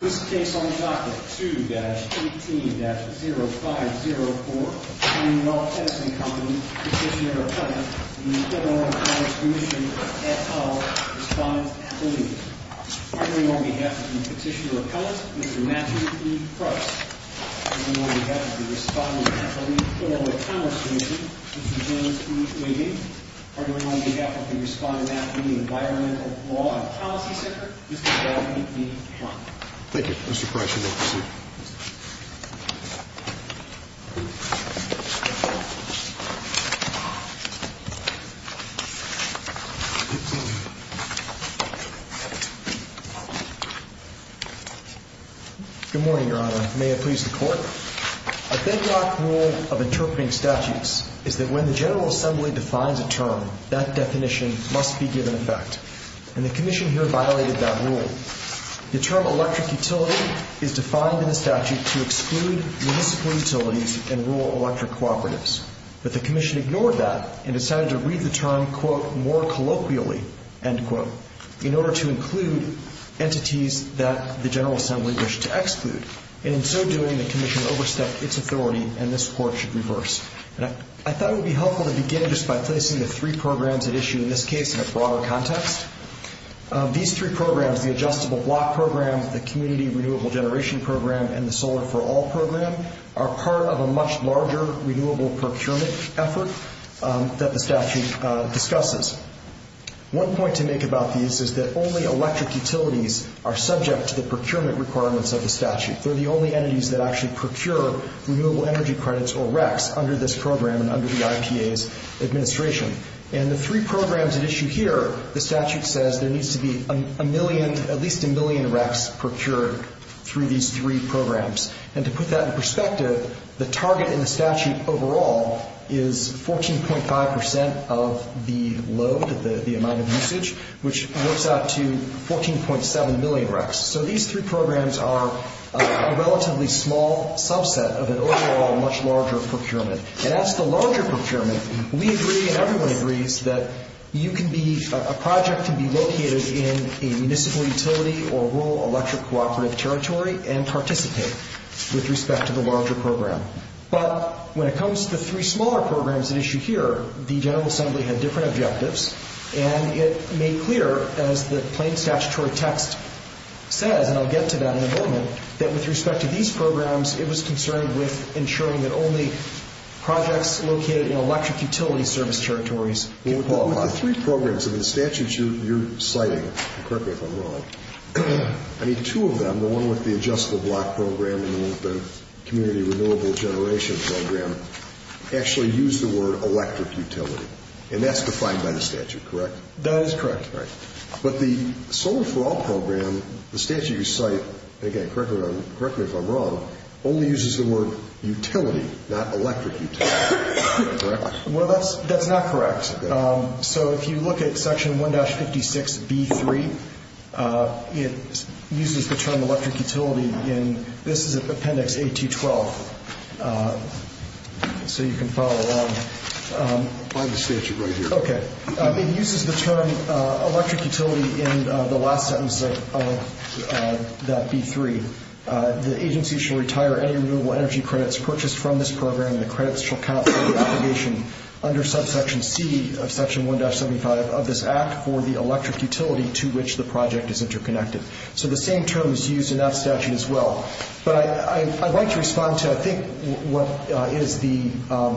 This case on the docket, 2-18-0504 Attorney General of Edison Company, Petitioner of Commerce v. Illinois Commerce Commission, et al. Respondent of the League Parting on behalf of the Petitioner of Commerce, Mr. Matthew E. Price Parting on behalf of the Respondent of the League, Illinois Commerce Commission Mr. James E. Levy Parting on behalf of the Respondent of the League, Environmental Law and Policy Center Thank you, Mr. Price. You may proceed. Good morning, Your Honor. May it please the Court? A bedrock rule of interpreting statutes is that when the General Assembly defines a term, that definition must be given effect. And the Commission here violated that rule. The term electric utility is defined in the statute to exclude municipal utilities and rule electric cooperatives. But the Commission ignored that and decided to read the term, quote, more colloquially, end quote, in order to include entities that the General Assembly wished to exclude. And in so doing, the Commission overstepped its authority and this Court should reverse. I thought it would be helpful to begin just by placing the three programs at issue in this case in a broader context. These three programs, the Adjustable Block Program, the Community Renewable Generation Program, and the Solar for All Program, are part of a much larger renewable procurement effort that the statute discusses. One point to make about these is that only electric utilities are subject to the procurement requirements of the statute. They're the only entities that actually procure renewable energy credits or RECs under this program and under the IPA's administration. And the three programs at issue here, the statute says there needs to be a million, at least a million RECs procured through these three programs. And to put that in perspective, the target in the statute overall is 14.5 percent of the load, the amount of usage, which works out to 14.7 million RECs. So these three programs are a relatively small subset of an overall much larger procurement. And as for larger procurement, we agree and everyone agrees that you can be, a project can be located in a municipal utility or rural electric cooperative territory and participate with respect to the larger program. But when it comes to the three smaller programs at issue here, the General Assembly had different objectives and it made clear, as the plain statutory text says, and I'll get to that in a moment, that with respect to these programs, it was concerned with ensuring that only projects located in electric utility service territories can qualify. With the three programs and the statutes you're citing, correct me if I'm wrong, I mean two of them, the one with the Adjustable Block Program and the one with the Community Renewable Generation Program, actually use the word electric utility. And that's defined by the statute, correct? That is correct. Right. But the Solar for All Program, the statute you cite, and again, correct me if I'm wrong, only uses the word utility, not electric utility. Correct? Well, that's not correct. So if you look at Section 1-56B-3, it uses the term electric utility in, this is Appendix A-2-12, so you can follow along. Find the statute right here. Okay. It uses the term electric utility in the last sentence of that B-3. The agency shall retire any renewable energy credits purchased from this program and the credits shall count for the obligation under Subsection C of Section 1-75 of this Act for the electric utility to which the project is interconnected. So the same term is used in that statute as well. But I'd like to respond to I think what is the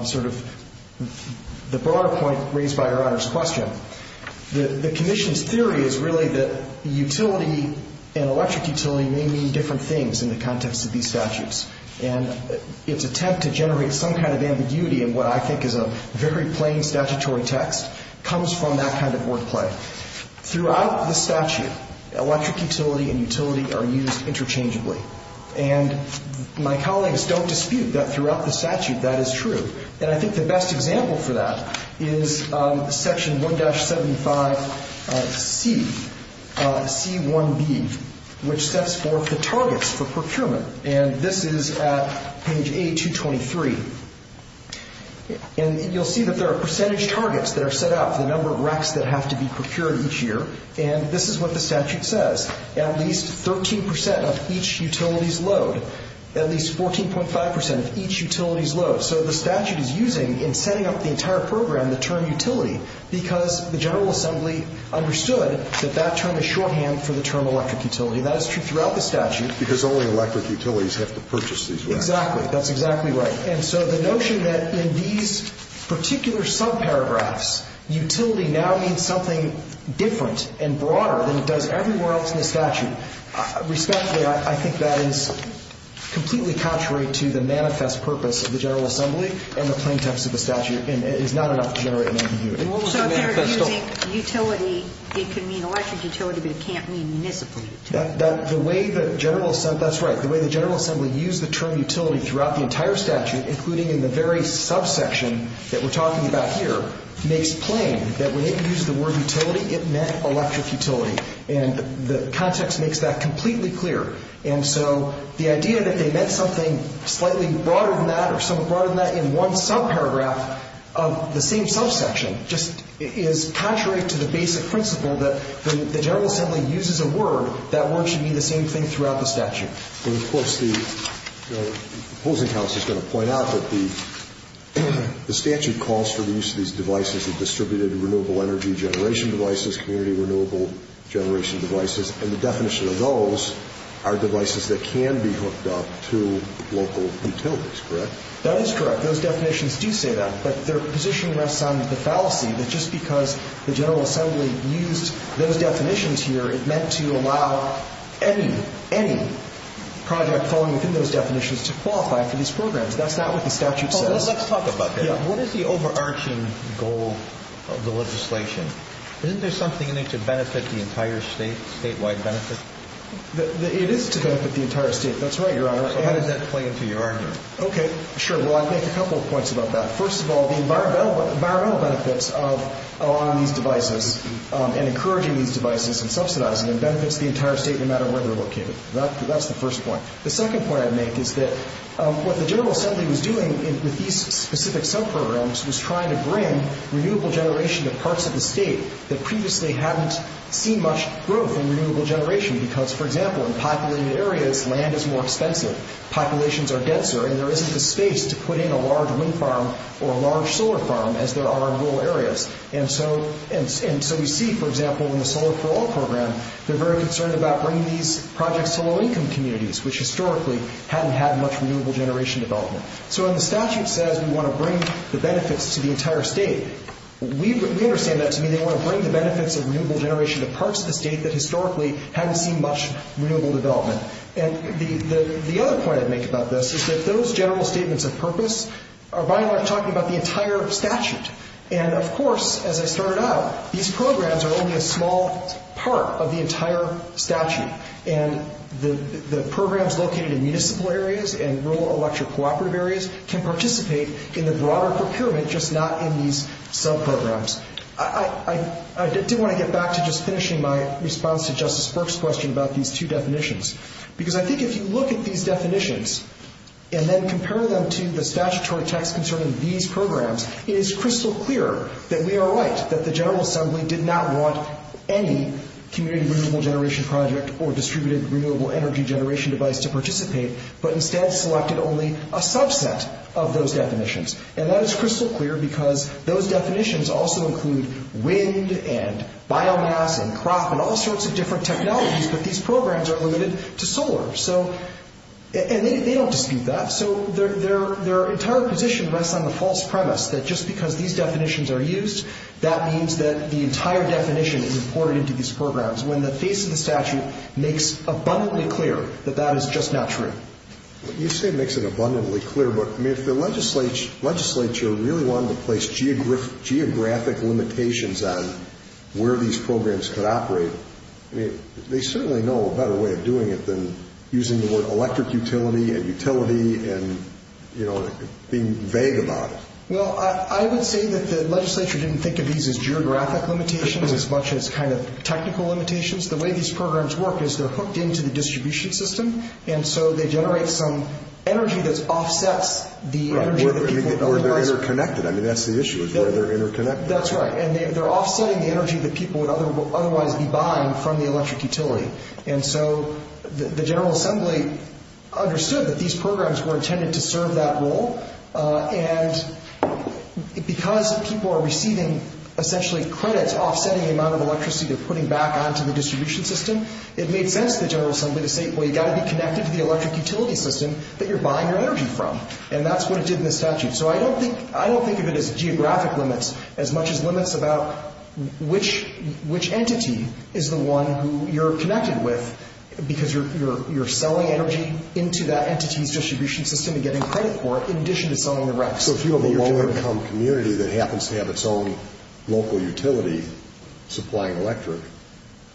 sort of the broader point raised by Your Honor's question. The Commission's theory is really that utility and electric utility may mean different things in the context of these statutes. And its attempt to generate some kind of ambiguity in what I think is a very plain statutory text comes from that kind of wordplay. Throughout the statute, electric utility and utility are used interchangeably. And my colleagues don't dispute that throughout the statute that is true. And I think the best example for that is Section 1-75C, C-1B, which sets forth the targets for procurement. And this is at page A-223. And you'll see that there are percentage targets that are set out for the number of racks that have to be procured each year. And this is what the statute says, at least 13 percent of each utility's load, at least 14.5 percent of each utility's load. So the statute is using in setting up the entire program the term utility because the General Assembly understood that that term is shorthand for the term electric utility. And that is true throughout the statute. Because only electric utilities have to purchase these racks. Exactly. That's exactly right. And so the notion that in these particular subparagraphs, utility now means something different and broader than it does everywhere else in the statute, respectfully, I think that is completely contrary to the manifest purpose of the General Assembly and the plain text of the statute. And it is not enough to generate an ambiguity. So if they're using utility, it can mean electric utility, but it can't mean municipal utility. That's right. The way the General Assembly used the term utility throughout the entire statute, including in the very subsection that we're talking about here, makes plain that when it used the word utility, it meant electric utility. And the context makes that completely clear. And so the idea that they meant something slightly broader than that or somewhat broader than that in one subparagraph of the same subsection just is contrary to the basic principle that when the General Assembly uses a word, that word should mean the same thing throughout the statute. And, of course, the opposing house is going to point out that the statute calls for the use of these devices, the distributed renewable energy generation devices, community renewable generation devices, and the definition of those are devices that can be hooked up to local utilities, correct? That is correct. Those definitions do say that. But their position rests on the fallacy that just because the General Assembly used those definitions here, it meant to allow any, any project falling within those definitions to qualify for these programs. That's not what the statute says. Let's talk about that. What is the overarching goal of the legislation? Isn't there something in it to benefit the entire state, statewide benefit? It is to benefit the entire state. That's right, Your Honor. How does that play into your argument? Okay. Sure. Well, I'd make a couple of points about that. First of all, the environmental benefits of allowing these devices and encouraging these devices and subsidizing them benefits the entire state no matter where they're located. That's the first point. The second point I'd make is that what the General Assembly was doing with these specific subprograms was trying to bring renewable generation to parts of the state that previously hadn't seen much growth in renewable generation because, for example, in populated areas, land is more expensive, populations are denser, and there isn't the space to put in a large wind farm or a large solar farm as there are in rural areas. And so we see, for example, in the Solar for All program, they're very concerned about bringing these projects to low-income communities, which historically hadn't had much renewable generation development. So when the statute says we want to bring the benefits to the entire state, we understand that to mean they want to bring the benefits of renewable generation to parts of the state that historically hadn't seen much renewable development. And the other point I'd make about this is that those general statements of purpose are by and large talking about the entire statute. And, of course, as I started out, these programs are only a small part of the entire statute, and the programs located in municipal areas and rural electric cooperative areas can participate in the broader procurement, just not in these subprograms. I did want to get back to just finishing my response to Justice Burke's question about these two definitions, because I think if you look at these definitions and then compare them to the statutory text concerning these programs, it is crystal clear that we are right, that the General Assembly did not want any community renewable generation project or distributed renewable energy generation device to participate, but instead selected only a subset of those definitions. And that is crystal clear because those definitions also include wind and biomass and crop and all sorts of different technologies, but these programs are limited to solar. And they don't dispute that. So their entire position rests on the false premise that just because these definitions are used, that means that the entire definition is imported into these programs, when the face of the statute makes abundantly clear that that is just not true. You say makes it abundantly clear, but if the legislature really wanted to place geographic limitations on where these programs could operate, they certainly know a better way of doing it than using the word electric utility and utility and being vague about it. Well, I would say that the legislature didn't think of these as geographic limitations as much as kind of technical limitations. The way these programs work is they're hooked into the distribution system, and so they generate some energy that offsets the energy that people otherwise... Right, where they're interconnected. I mean, that's the issue is where they're interconnected. That's right, and they're offsetting the energy that people would otherwise be buying from the electric utility. And so the General Assembly understood that these programs were intended to serve that role, and because people are receiving essentially credits offsetting the amount of electricity they're putting back onto the distribution system, it made sense to the General Assembly to say, well, you've got to be connected to the electric utility system that you're buying your energy from, and that's what it did in the statute. So I don't think of it as geographic limits as much as limits about which entity is the one who you're connected with because you're selling energy into that entity's distribution system and getting credit for it in addition to selling the rest. So if you have a low-income community that happens to have its own local utility supplying electric,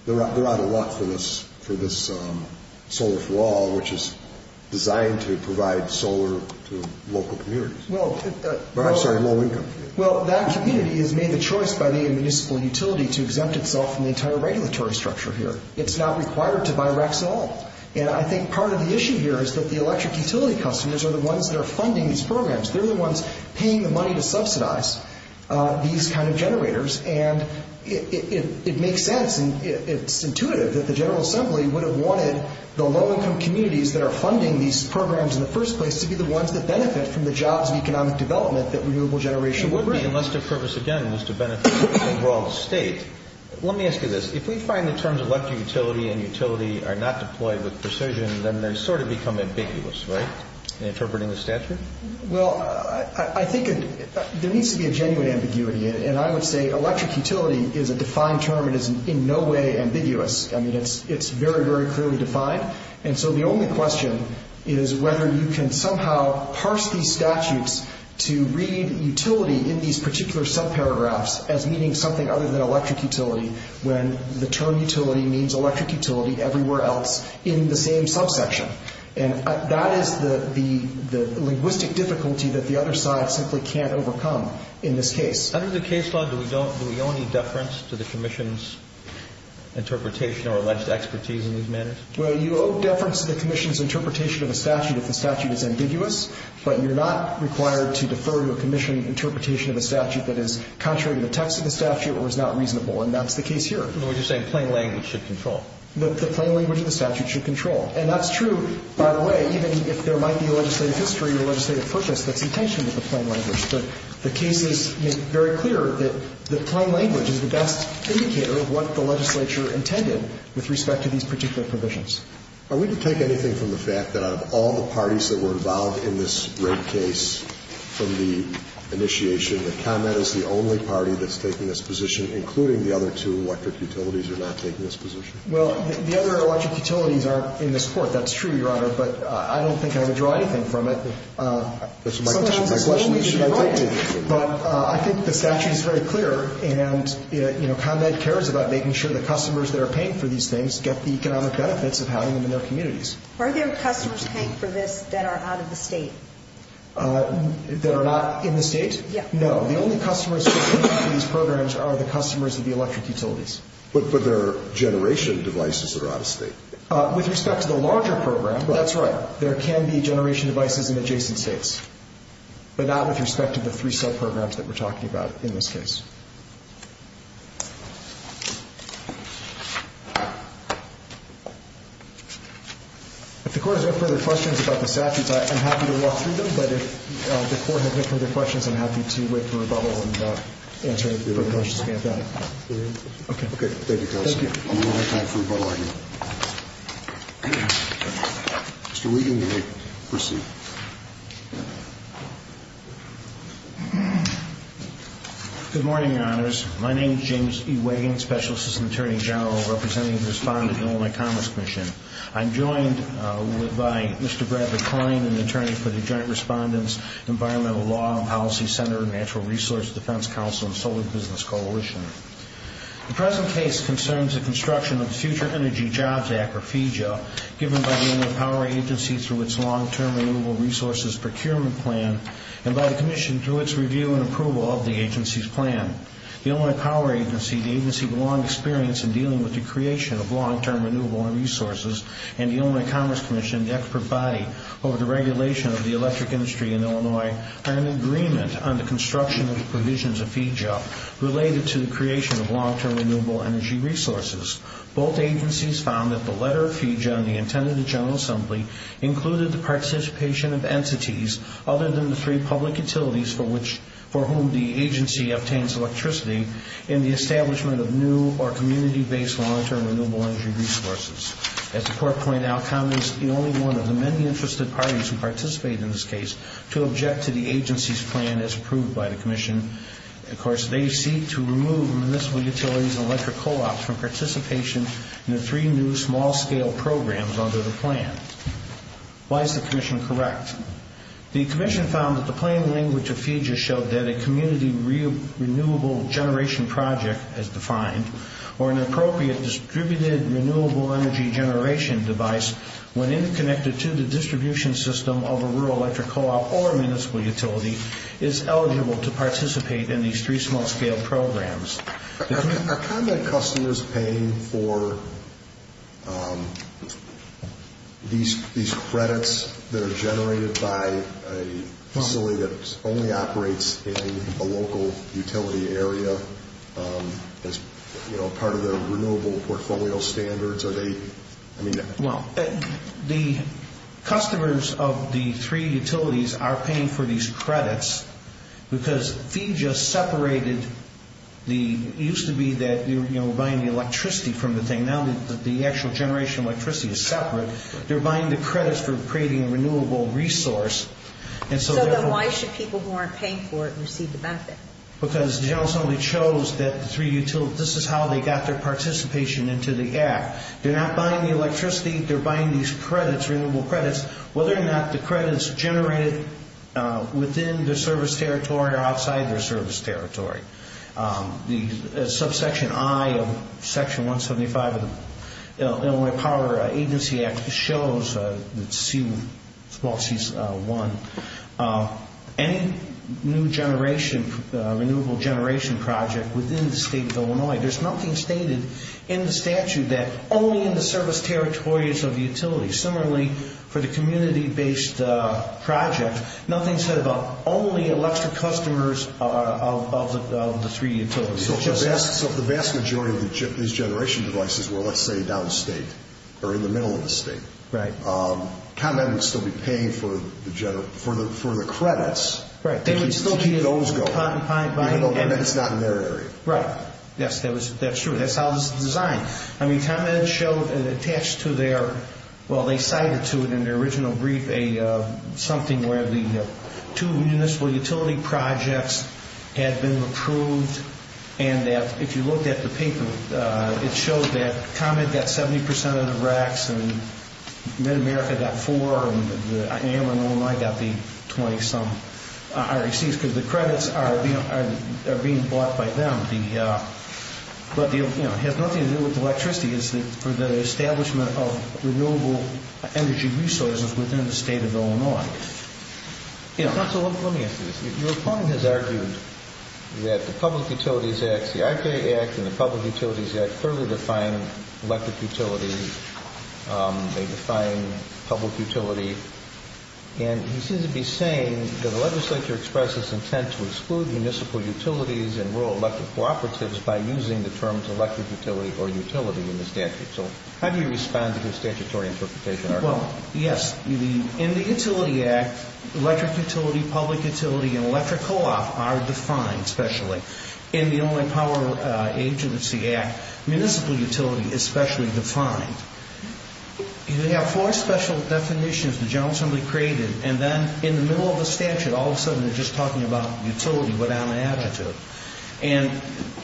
they're out of luck for this solar for all, which is designed to provide solar to local communities. Well... I'm sorry, low-income. Well, that community has made the choice by the municipal utility to exempt itself from the entire regulatory structure here. It's not required to buy Rex and all. And I think part of the issue here is that the electric utility customers are the ones that are funding these programs. They're the ones paying the money to subsidize these kind of generators, and it makes sense and it's intuitive that the General Assembly would have wanted the low-income communities that are funding these programs in the first place to be the ones that benefit from the jobs and economic development that Renewable Generation would bring. Unless their purpose, again, was to benefit the overall state. Let me ask you this. If we find the terms electric utility and utility are not deployed with precision, then they sort of become ambiguous, right, in interpreting the statute? Well, I think there needs to be a genuine ambiguity, and I would say electric utility is a defined term and is in no way ambiguous. I mean, it's very, very clearly defined. And so the only question is whether you can somehow parse these statutes to read utility in these particular subparagraphs as meaning something other than electric utility when the term utility means electric utility everywhere else in the same subsection. And that is the linguistic difficulty that the other side simply can't overcome in this case. Under the case law, do we owe any deference to the commission's interpretation or alleged expertise in these matters? Well, you owe deference to the commission's interpretation of a statute if the statute is ambiguous, but you're not required to defer to a commission interpretation of a statute that is contrary to the text of the statute or is not reasonable, and that's the case here. We're just saying plain language should control. The plain language of the statute should control. And that's true, by the way, even if there might be a legislative history or legislative purpose that's in tension with the plain language. But the case is very clear that the plain language is the best indicator of what the legislature intended with respect to these particular provisions. Are we to take anything from the fact that out of all the parties that were involved in this rape case from the initiation that ComEd is the only party that's taking this position, including the other two electric utilities are not taking this position? Well, the other electric utilities aren't in this Court. That's true, Your Honor. But I don't think I would draw anything from it. That's my question. But I think the statute is very clear, and, you know, ComEd cares about making sure the customers that are paying for these things get the economic benefits of having them in their communities. Are there customers paying for this that are out of the State? That are not in the State? Yes. No. The only customers who are paying for these programs are the customers of the electric utilities. But they're generation devices that are out of State. With respect to the larger program, that's right. There can be generation devices in adjacent States, but not with respect to the three subprograms that we're talking about in this case. If the Court has no further questions about the statutes, I'm happy to walk through them. But if the Court has no further questions, I'm happy to wait for rebuttal and answer any further questions you may have. Okay. Thank you, counsel. Thank you. We'll have time for rebuttal argument. Mr. Wiegand, you may proceed. Good morning, Your Honors. My name is James E. Wiegand, Special Assistant Attorney General, representing the Respondent of the Illinois Commerce Commission. I'm joined by Mr. Brad McCoyne, an attorney for the Joint Respondent's Environmental Law and Policy Center, Natural Resource Defense Council, and Solar Business Coalition. The present case concerns the construction of the Future Energy Jobs Act, or FEJA, given by the Illinois Power Agency through its Long-Term Renewable Resources Procurement Plan and by the Commission through its review and approval of the agency's plan. The Illinois Power Agency, the agency with long experience in dealing with the creation of long-term renewable resources, and the Illinois Commerce Commission, the expert body over the regulation of the electric industry in Illinois, are in agreement on the construction of the provisions of FEJA related to the creation of long-term renewable energy resources. Both agencies found that the letter of FEJA on the intent of the General Assembly included the participation of entities other than the three public utilities for whom the agency obtains electricity in the establishment of new or community-based long-term renewable energy resources. As the court pointed out, Congress is the only one of the many interested parties who seek to remove municipal utilities and electric co-ops from participation in the three new small-scale programs under the plan. Why is the Commission correct? The Commission found that the plain language of FEJA showed that a community renewable generation project, as defined, or an appropriate distributed renewable energy generation device when interconnected to the distribution system of a rural electric co-op or municipal utility, is eligible to participate in these three small-scale programs. Are combat customers paying for these credits that are generated by a facility that only operates in a local utility area as part of the renewable portfolio standards? Well, the customers of the three utilities are paying for these credits because FEJA separated the, it used to be that we were buying the electricity from the thing. Now the actual generation of electricity is separate. They're buying the credits for creating a renewable resource. So then why should people who aren't paying for it receive the benefit? Because the General Assembly chose that the three utilities, this is how they got their money. They're not buying the electricity. They're buying these credits, renewable credits, whether or not the credit's generated within their service territory or outside their service territory. The subsection I of section 175 of the Illinois Power Agency Act shows that C1, any new generation, renewable generation project within the state of Illinois, there's nothing stated in the service territories of the utilities. Similarly, for the community-based project, nothing's said about only electric customers of the three utilities. So if the vast majority of these generation devices were, let's say, downstate or in the middle of the state, ComEd would still be paying for the credits to keep those going. Right. It's not in their area. Right. Yes, that's true. That's how it was designed. I mean, ComEd showed and attached to their, well, they cited to it in their original brief something where the two municipal utility projects had been approved and that if you looked at the paper, it showed that ComEd got 70% of the racks and Mid-America got four and Illinois got the 20-some RECs because the credits are being bought by them. But it has nothing to do with electricity. It's for the establishment of renewable energy resources within the state of Illinois. Let me ask you this. Your opponent has argued that the Public Utilities Act, the RPA Act and the Public Utilities Act thoroughly define electric utilities. They define public utility. And he seems to be saying that the legislature expressed its intent to exclude municipal utilities and rural electric cooperatives by using the terms electric utility or utility in the statute. So how do you respond to his statutory interpretation? Well, yes, in the Utility Act, electric utility, public utility and electric co-op are defined specially. In the Illinois Power Agency Act, municipal utility is specially defined. They have four special definitions the General Assembly created and then in the middle of the statute all of a sudden they're just talking about utility without an adjective. And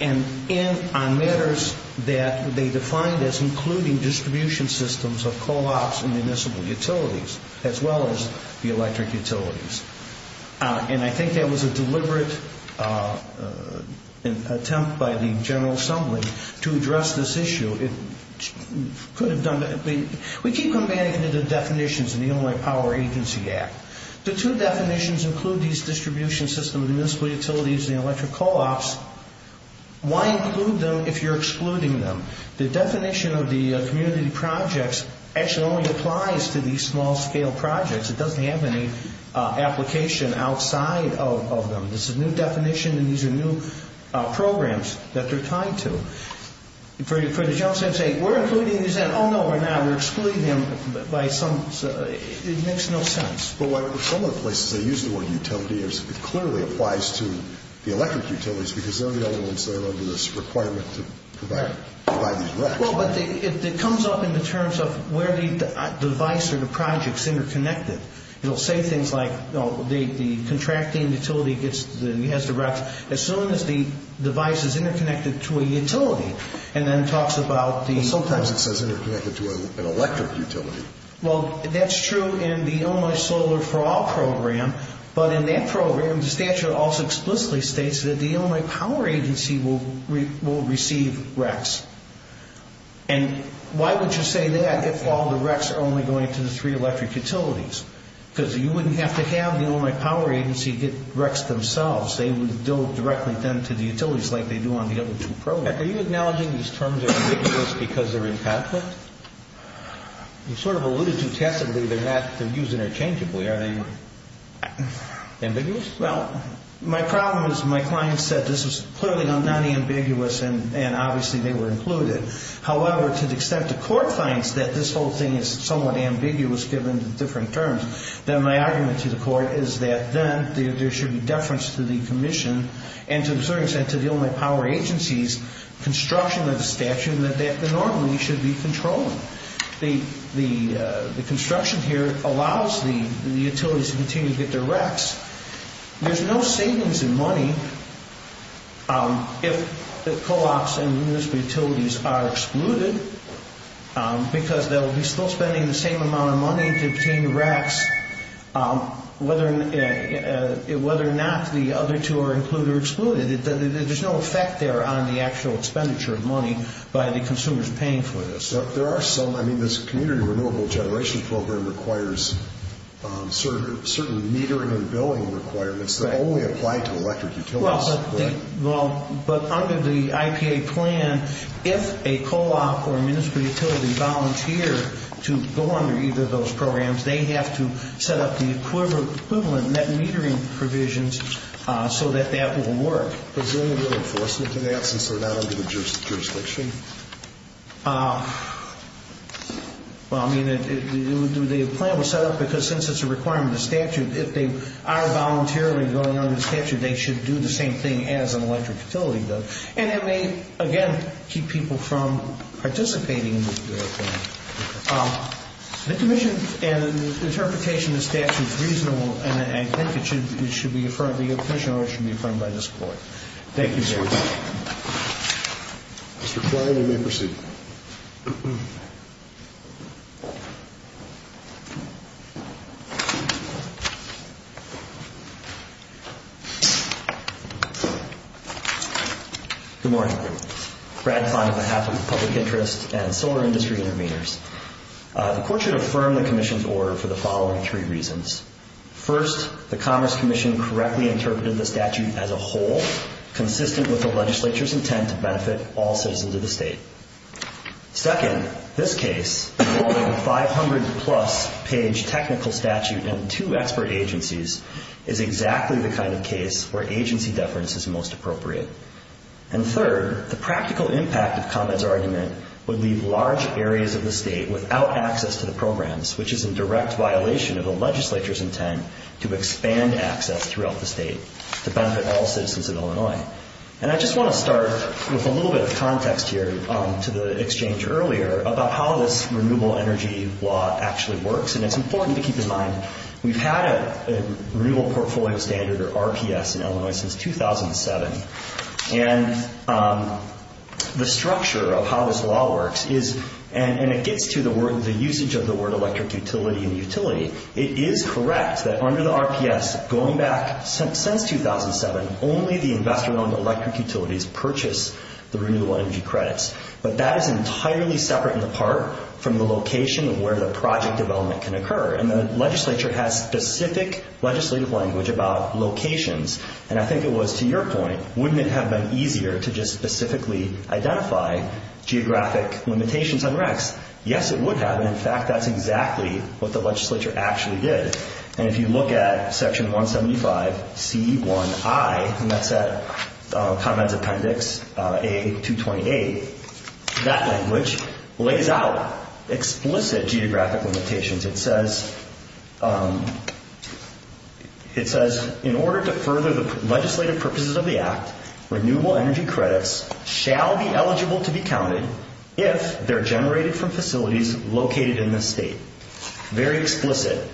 on matters that they defined as including distribution systems of co-ops and municipal utilities as well as the electric utilities. And I think that was a deliberate attempt by the General Assembly to address this issue. It could have done that. We keep combating the definitions in the Illinois Power Agency Act. The two definitions include these distribution systems of municipal utilities and electric co-ops. Why include them if you're excluding them? The definition of the community projects actually only applies to these small-scale projects. It doesn't have any application outside of them. This is a new definition and these are new programs that they're tied to. For the General Assembly to say, we're including these in. Oh, no, we're not. We're excluding them by some, it makes no sense. Well, some of the places they use the word utility, it clearly applies to the electric utilities because they're the only ones that are under this requirement to provide these recs. Well, but it comes up in the terms of where the device or the project is interconnected. It will say things like the contracting utility gets the recs as soon as the device is interconnected to a utility and then talks about the... Sometimes it says interconnected to an electric utility. Well, that's true in the Illinois Solar for All Program, but in that program, the statute also explicitly states that the Illinois Power Agency will receive recs. And why would you say that if all the recs are only going to the three electric utilities? Because you wouldn't have to have the Illinois Power Agency get recs themselves. They would go directly then to the utilities like they do on the other two programs. Are you acknowledging these terms are ambiguous because they're in conflict? You sort of alluded to testably they're not used interchangeably. Are they ambiguous? Well, my problem is my client said this is clearly not ambiguous and obviously they were included. However, to the extent the court finds that this whole thing is somewhat ambiguous given the different terms, then my argument to the court is that then there should be deference to the commission and to a certain extent to the Illinois Power Agency's construction of the statute that they normally should be controlling. The construction here allows the utilities to continue to get their recs. There's no savings in money if the co-ops and the municipal utilities are excluded because they'll be still spending the same amount of money to obtain the recs whether or not the other two are included or excluded. There's no effect there on the actual expenditure of money by the consumers paying for this. There are some. I mean, this community renewable generation program requires certain metering and billing requirements that only apply to electric utilities. But under the IPA plan, if a co-op or municipal utility volunteer to go under either of those programs, they have to set up the equivalent metering provisions so that that will work. Is there any real enforcement for that since they're not under the jurisdiction? Well, I mean, the plan was set up because since it's a requirement of the statute, if they are voluntarily going under the statute, they should do the same thing as an electric utility does. And it may, again, keep people from participating in the plan. The commission and interpretation of the statute is reasonable, and I think it should be affirmed by the commission or it should be affirmed by this court. Thank you, sir. Mr. Klein, you may proceed. Thank you. Good morning. Brad Kahn on behalf of the Public Interest and Solar Industry Intervenors. The court should affirm the commission's order for the following three reasons. First, the Commerce Commission correctly interpreted the statute as a whole, consistent with the legislature's intent to benefit all citizens of the state. Second, this case, involving a 500-plus page technical statute and two expert agencies, is exactly the kind of case where agency deference is most appropriate. And third, the practical impact of ComEd's argument would leave large areas of the state without access to the programs, which is in direct violation of the legislature's intent to expand access throughout the state to benefit all citizens of Illinois. And I just want to start with a little bit of context here to the exchange earlier about how this renewable energy law actually works, and it's important to keep in mind we've had a Renewable Portfolio Standard, or RPS, in Illinois since 2007. And the structure of how this law works is, and it gets to the word, the usage of the word electric utility and utility. It is correct that under the RPS, going back since 2007, only the investor-owned electric utilities purchase the renewable energy credits. But that is entirely separate and apart from the location of where the project development can occur. And the legislature has specific legislative language about locations, and I think it was to your point, wouldn't it have been easier to just specifically identify geographic limitations on RECs? Yes, it would have, and in fact, that's exactly what the legislature actually did. And if you look at Section 175C1I, and that's at ComEd's appendix A228, that language lays out explicit geographic limitations. It says, in order to further the legislative purposes of the Act, renewable energy credits shall be eligible to be counted if they're generated from facilities located in the state. Very explicit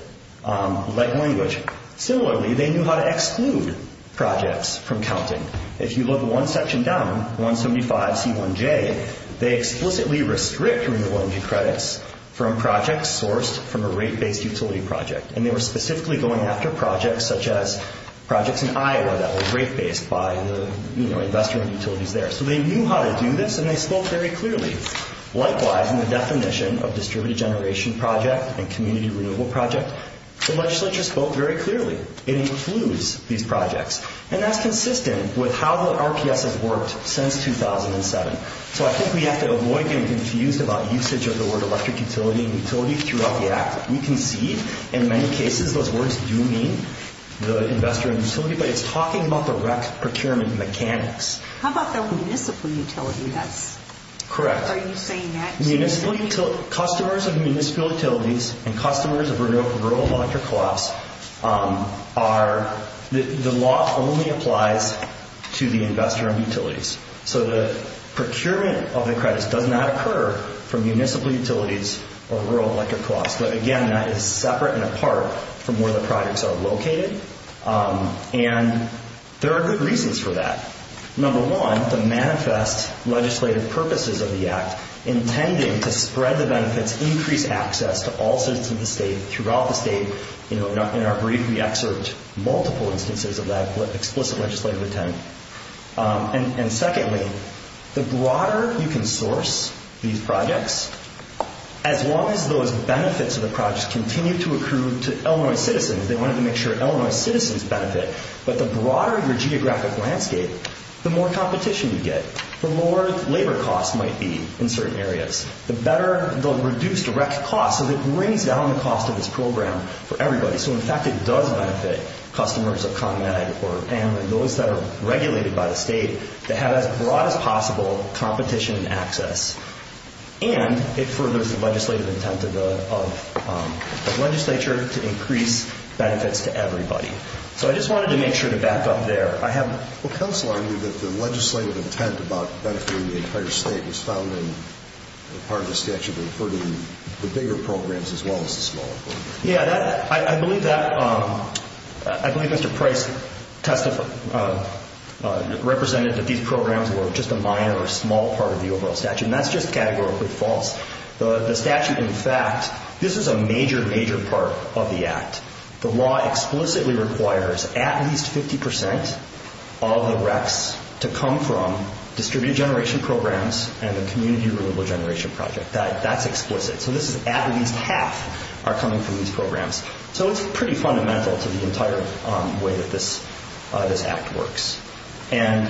language. Similarly, they knew how to exclude projects from counting. If you look one section down, 175C1J, they explicitly restrict renewable energy credits from projects sourced from a rate-based utility project. And they were specifically going after projects such as projects in Iowa that were rate-based by the investor and utilities there. So they knew how to do this, and they spoke very clearly. Likewise, in the definition of distributed generation project and community renewable project, the legislature spoke very clearly. It includes these projects. And that's consistent with how the RPS has worked since 2007. So I think we have to avoid getting confused about usage of the word electric utility and utility throughout the Act. We can see in many cases those words do mean the investor and utility, but it's talking about the REC procurement mechanics. How about the municipal utility? Correct. Are you saying that? Customers of municipal utilities and customers of rural electric co-ops are the law only applies to the investor and utilities. So the procurement of the credits does not occur from municipal utilities or rural electric co-ops. But, again, that is separate and apart from where the projects are located. And there are good reasons for that. Number one, the manifest legislative purposes of the Act, intending to spread the benefits, increase access to all citizens of the state, throughout the state. In our brief, we excerpt multiple instances of that explicit legislative intent. And secondly, the broader you can source these projects, as long as those benefits of the projects continue to accrue to Illinois citizens, they wanted to make sure Illinois citizens benefit, but the broader your geographic landscape, the more competition you get, the more labor costs might be in certain areas. The better the reduced REC costs, so it brings down the cost of this program for everybody. So, in fact, it does benefit customers of ComEd and those that are regulated by the state to have as broad as possible competition and access. And it furthers the legislative intent of the legislature to increase benefits to everybody. So I just wanted to make sure to back up there. I have... Well, counsel, I knew that the legislative intent about benefiting the entire state was found in part of the statute, but for the bigger programs as well as the smaller programs. Yeah, I believe that. I believe Mr. Price testified, represented that these programs were just a minor or small part of the overall statute, and that's just categorically false. The statute, in fact, this is a major, major part of the act. The law explicitly requires at least 50% of the RECs to come from distributed generation programs and the community-reliable generation project. That's explicit. So this is at least half are coming from these programs. So it's pretty fundamental to the entire way that this act works. And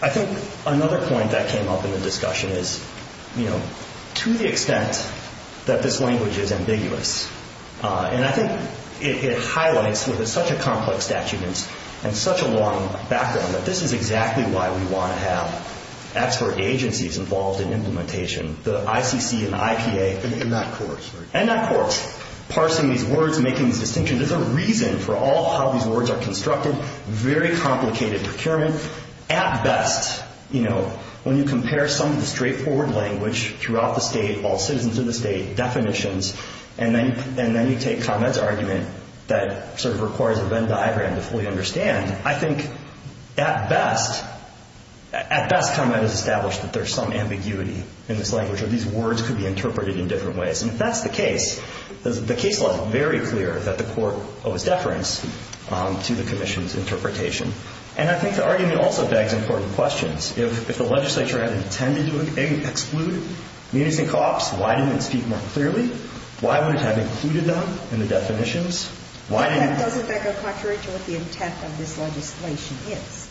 I think another point that came up in the discussion is, you know, to the extent that this language is ambiguous, and I think it highlights with such a complex statute and such a long background that this is exactly why we want to have expert agencies involved in implementation. The ICC and the IPA. And that courts. And that courts. Parsing these words, making these distinctions. There's a reason for all how these words are constructed. Very complicated procurement. At best, you know, when you compare some of the straightforward language throughout the state, all citizens in the state, definitions, and then you take ComEd's argument that sort of requires a Venn diagram to fully understand, I think at best, at best ComEd has established that there's some ambiguity in this language, or these words could be interpreted in different ways. And if that's the case, the case law is very clear that the court owes deference to the commission's interpretation. And I think the argument also begs important questions. If the legislature had intended to exclude meetings and co-ops, why didn't it speak more clearly? Why wouldn't it have included them in the definitions? Why didn't it? And doesn't that go contrary to what the intent of this legislation is,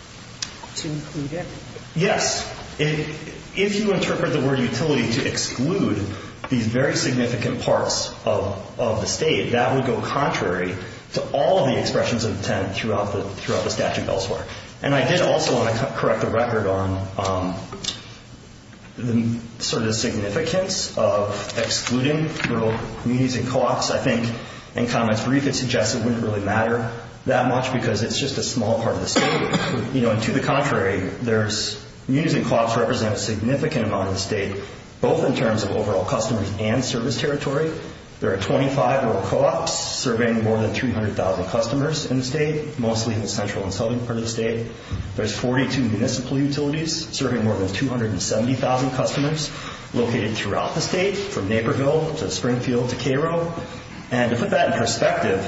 to include everything? Yes. If you interpret the word utility to exclude these very significant parts of the state, that would go contrary to all the expressions of intent throughout the statute elsewhere. And I did also want to correct the record on sort of the significance of excluding little meetings and co-ops. I think in ComEd's brief, it suggests it wouldn't really matter that much because it's just a small part of the state. You know, and to the contrary, there's meetings and co-ops represent a significant amount of the state, both in terms of overall customers and service territory. There are 25 overall co-ops serving more than 300,000 customers in the state, mostly in the central and southern part of the state. There's 42 municipal utilities serving more than 270,000 customers located throughout the state, from Naperville to Springfield to Cairo. And to put that in perspective,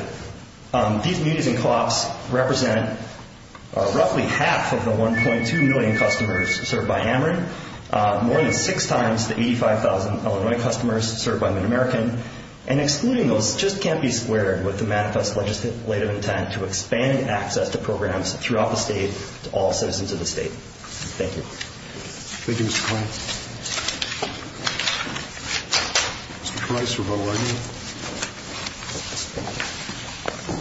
these meetings and co-ops represent roughly half of the 1.2 million customers served by Ameren, more than six times the 85,000 Illinois customers served by MidAmerican. And excluding those just can't be squared with the manifest legislative intent to expand access to programs throughout the state to all citizens of the state. Thank you. Thank you, Mr. Kline. Mr. Price, rebuttal argument.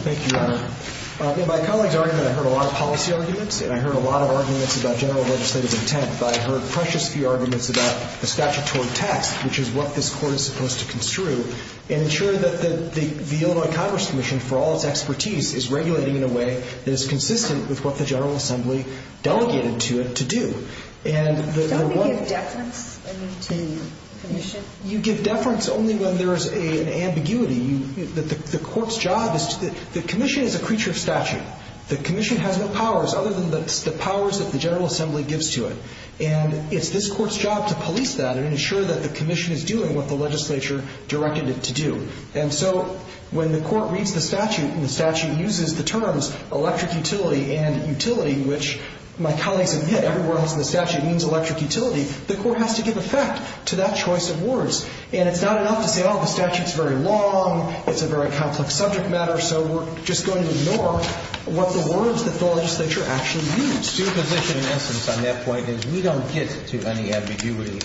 Thank you, Your Honor. In my colleague's argument, I heard a lot of policy arguments and I heard a lot of arguments about general legislative intent, but I heard precious few arguments about the statutory text, which is what this Court is supposed to construe and ensure that the Illinois Congress Commission, for all its expertise, is regulating in a way that is consistent with what the General Assembly delegated to it to do. Don't they give deference to the Commission? You give deference only when there is an ambiguity. The Court's job is to the Commission is a creature of statute. The Commission has no powers other than the powers that the General Assembly gives to it. And it's this Court's job to police that and ensure that the Commission is doing what the legislature directed it to do. And so when the Court reads the statute and the statute uses the terms electric utility and utility, which my colleagues admit everywhere else in the statute means electric utility, the Court has to give effect to that choice of words. And it's not enough to say, oh, the statute's very long, it's a very complex subject matter, so we're just going to ignore what the words that the legislature actually use. The position in essence on that point is we don't get to any ambiguity.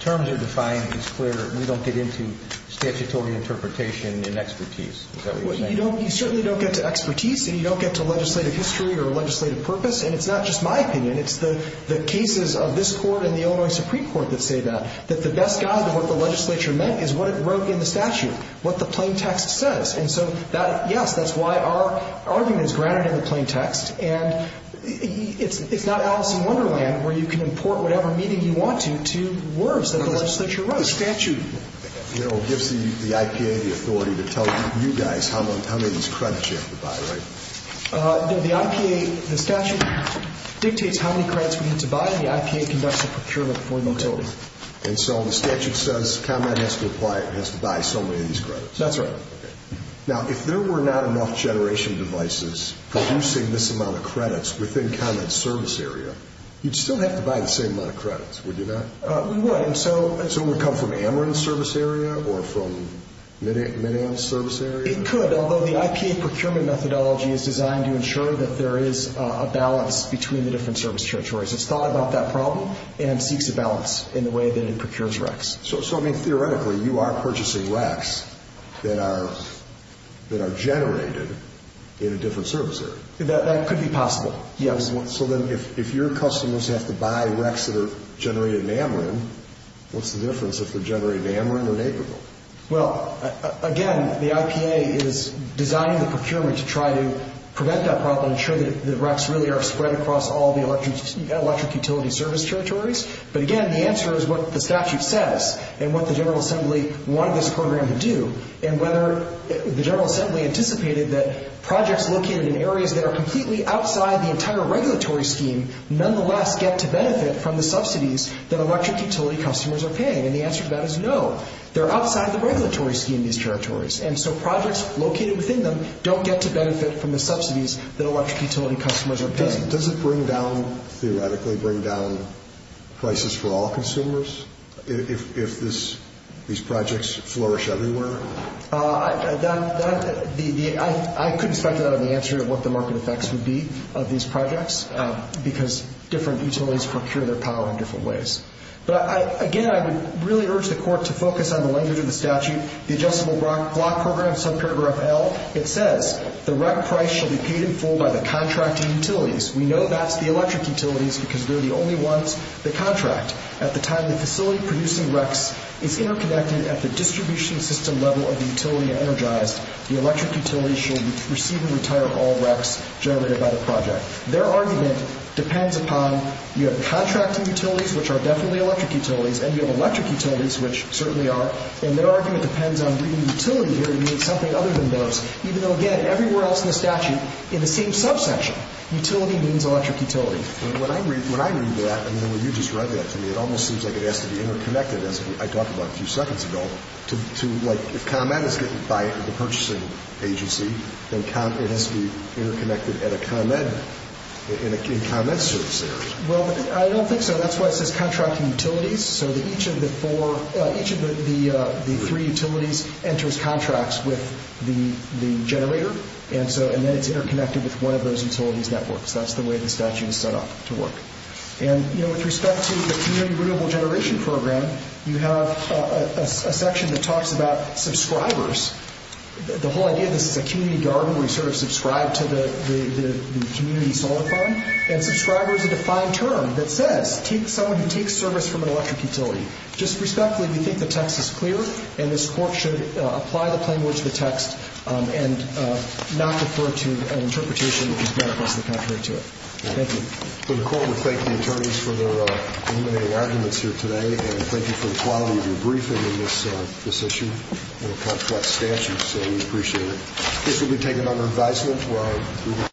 Terms are defined, it's clear, we don't get into statutory interpretation and expertise. Is that what you're saying? You certainly don't get to expertise and you don't get to legislative history or legislative purpose. And it's not just my opinion, it's the cases of this Court and the Illinois Supreme Court that say that. That the best guide of what the legislature meant is what it wrote in the statute, what the plain text says. And so, yes, that's why our argument is grounded in the plain text. And it's not Alice in Wonderland where you can import whatever meaning you want to to words that the legislature wrote. The statute, you know, gives the IPA the authority to tell you guys how many of these credits you have to buy, right? No, the IPA, the statute dictates how many credits we need to buy and the IPA conducts the procurement for the utility. And so the statute says ComEd has to apply, has to buy so many of these credits. That's right. Now, if there were not enough generation devices producing this amount of credits within ComEd's service area, you'd still have to buy the same amount of credits, would you not? We would. And so would it come from Ameren's service area or from Mideon's service area? It could, although the IPA procurement methodology is designed to ensure that there is a balance between the different service territories. It's thought about that problem and seeks a balance in the way that it procures RECs. So, I mean, theoretically, you are purchasing RECs that are generated in a different service area. That could be possible, yes. So then if your customers have to buy RECs that are generated in Ameren, what's the difference if they're generated in Ameren or Naperville? Well, again, the IPA is designing the procurement to try to prevent that problem and ensure that RECs really are spread across all the electric utility service territories. But, again, the answer is what the statute says and what the General Assembly wanted this program to do and whether the General Assembly anticipated that projects located in areas that are completely outside the entire regulatory scheme nonetheless get to benefit from the subsidies that electric utility customers are paying. And the answer to that is no. They're outside the regulatory scheme, these territories. And so projects located within them don't get to benefit from the subsidies that electric utility customers are paying. Does it bring down, theoretically, bring down prices for all consumers? If these projects flourish everywhere? I couldn't speculate on the answer of what the market effects would be of these projects because different utilities procure their power in different ways. But, again, I would really urge the Court to focus on the language of the statute, the Adjustable Block Program, subparagraph L. It says the REC price shall be paid in full by the contracting utilities. We know that's the electric utilities because they're the only ones that contract. At the time the facility producing RECs is interconnected at the distribution system level of the utility energized, the electric utilities shall receive and retire all RECs generated by the project. Their argument depends upon you have contracting utilities, which are definitely electric utilities, and you have electric utilities, which certainly are, and their argument depends on bringing utility here to mean something other than those, even though, again, everywhere else in the statute, in the same subsection, utility means electric utility. When I read that, and then when you just read that to me, it almost seems like it has to be interconnected, as I talked about a few seconds ago, to like if ComEd is getting by at the purchasing agency, then it has to be interconnected at a ComEd, in ComEd service areas. Well, I don't think so. That's why it says contracting utilities, so that each of the four, each of the three utilities enters contracts with the generator, and then it's interconnected with one of those utilities networks. That's the way the statute is set up to work. And, you know, with respect to the community renewable generation program, you have a section that talks about subscribers. The whole idea of this is a community garden where you sort of subscribe to the community solar farm, and subscriber is a defined term that says someone who takes service from an electric utility. Just respectfully, we think the text is clear, and this Court should apply the plain words of the text and not defer to an interpretation which is going to place the contrary to it. Thank you. The Court would thank the attorneys for their illuminating arguments here today, and thank you for the quality of your briefing on this issue. It's a complex statute, so we appreciate it. This will be taken under advisement.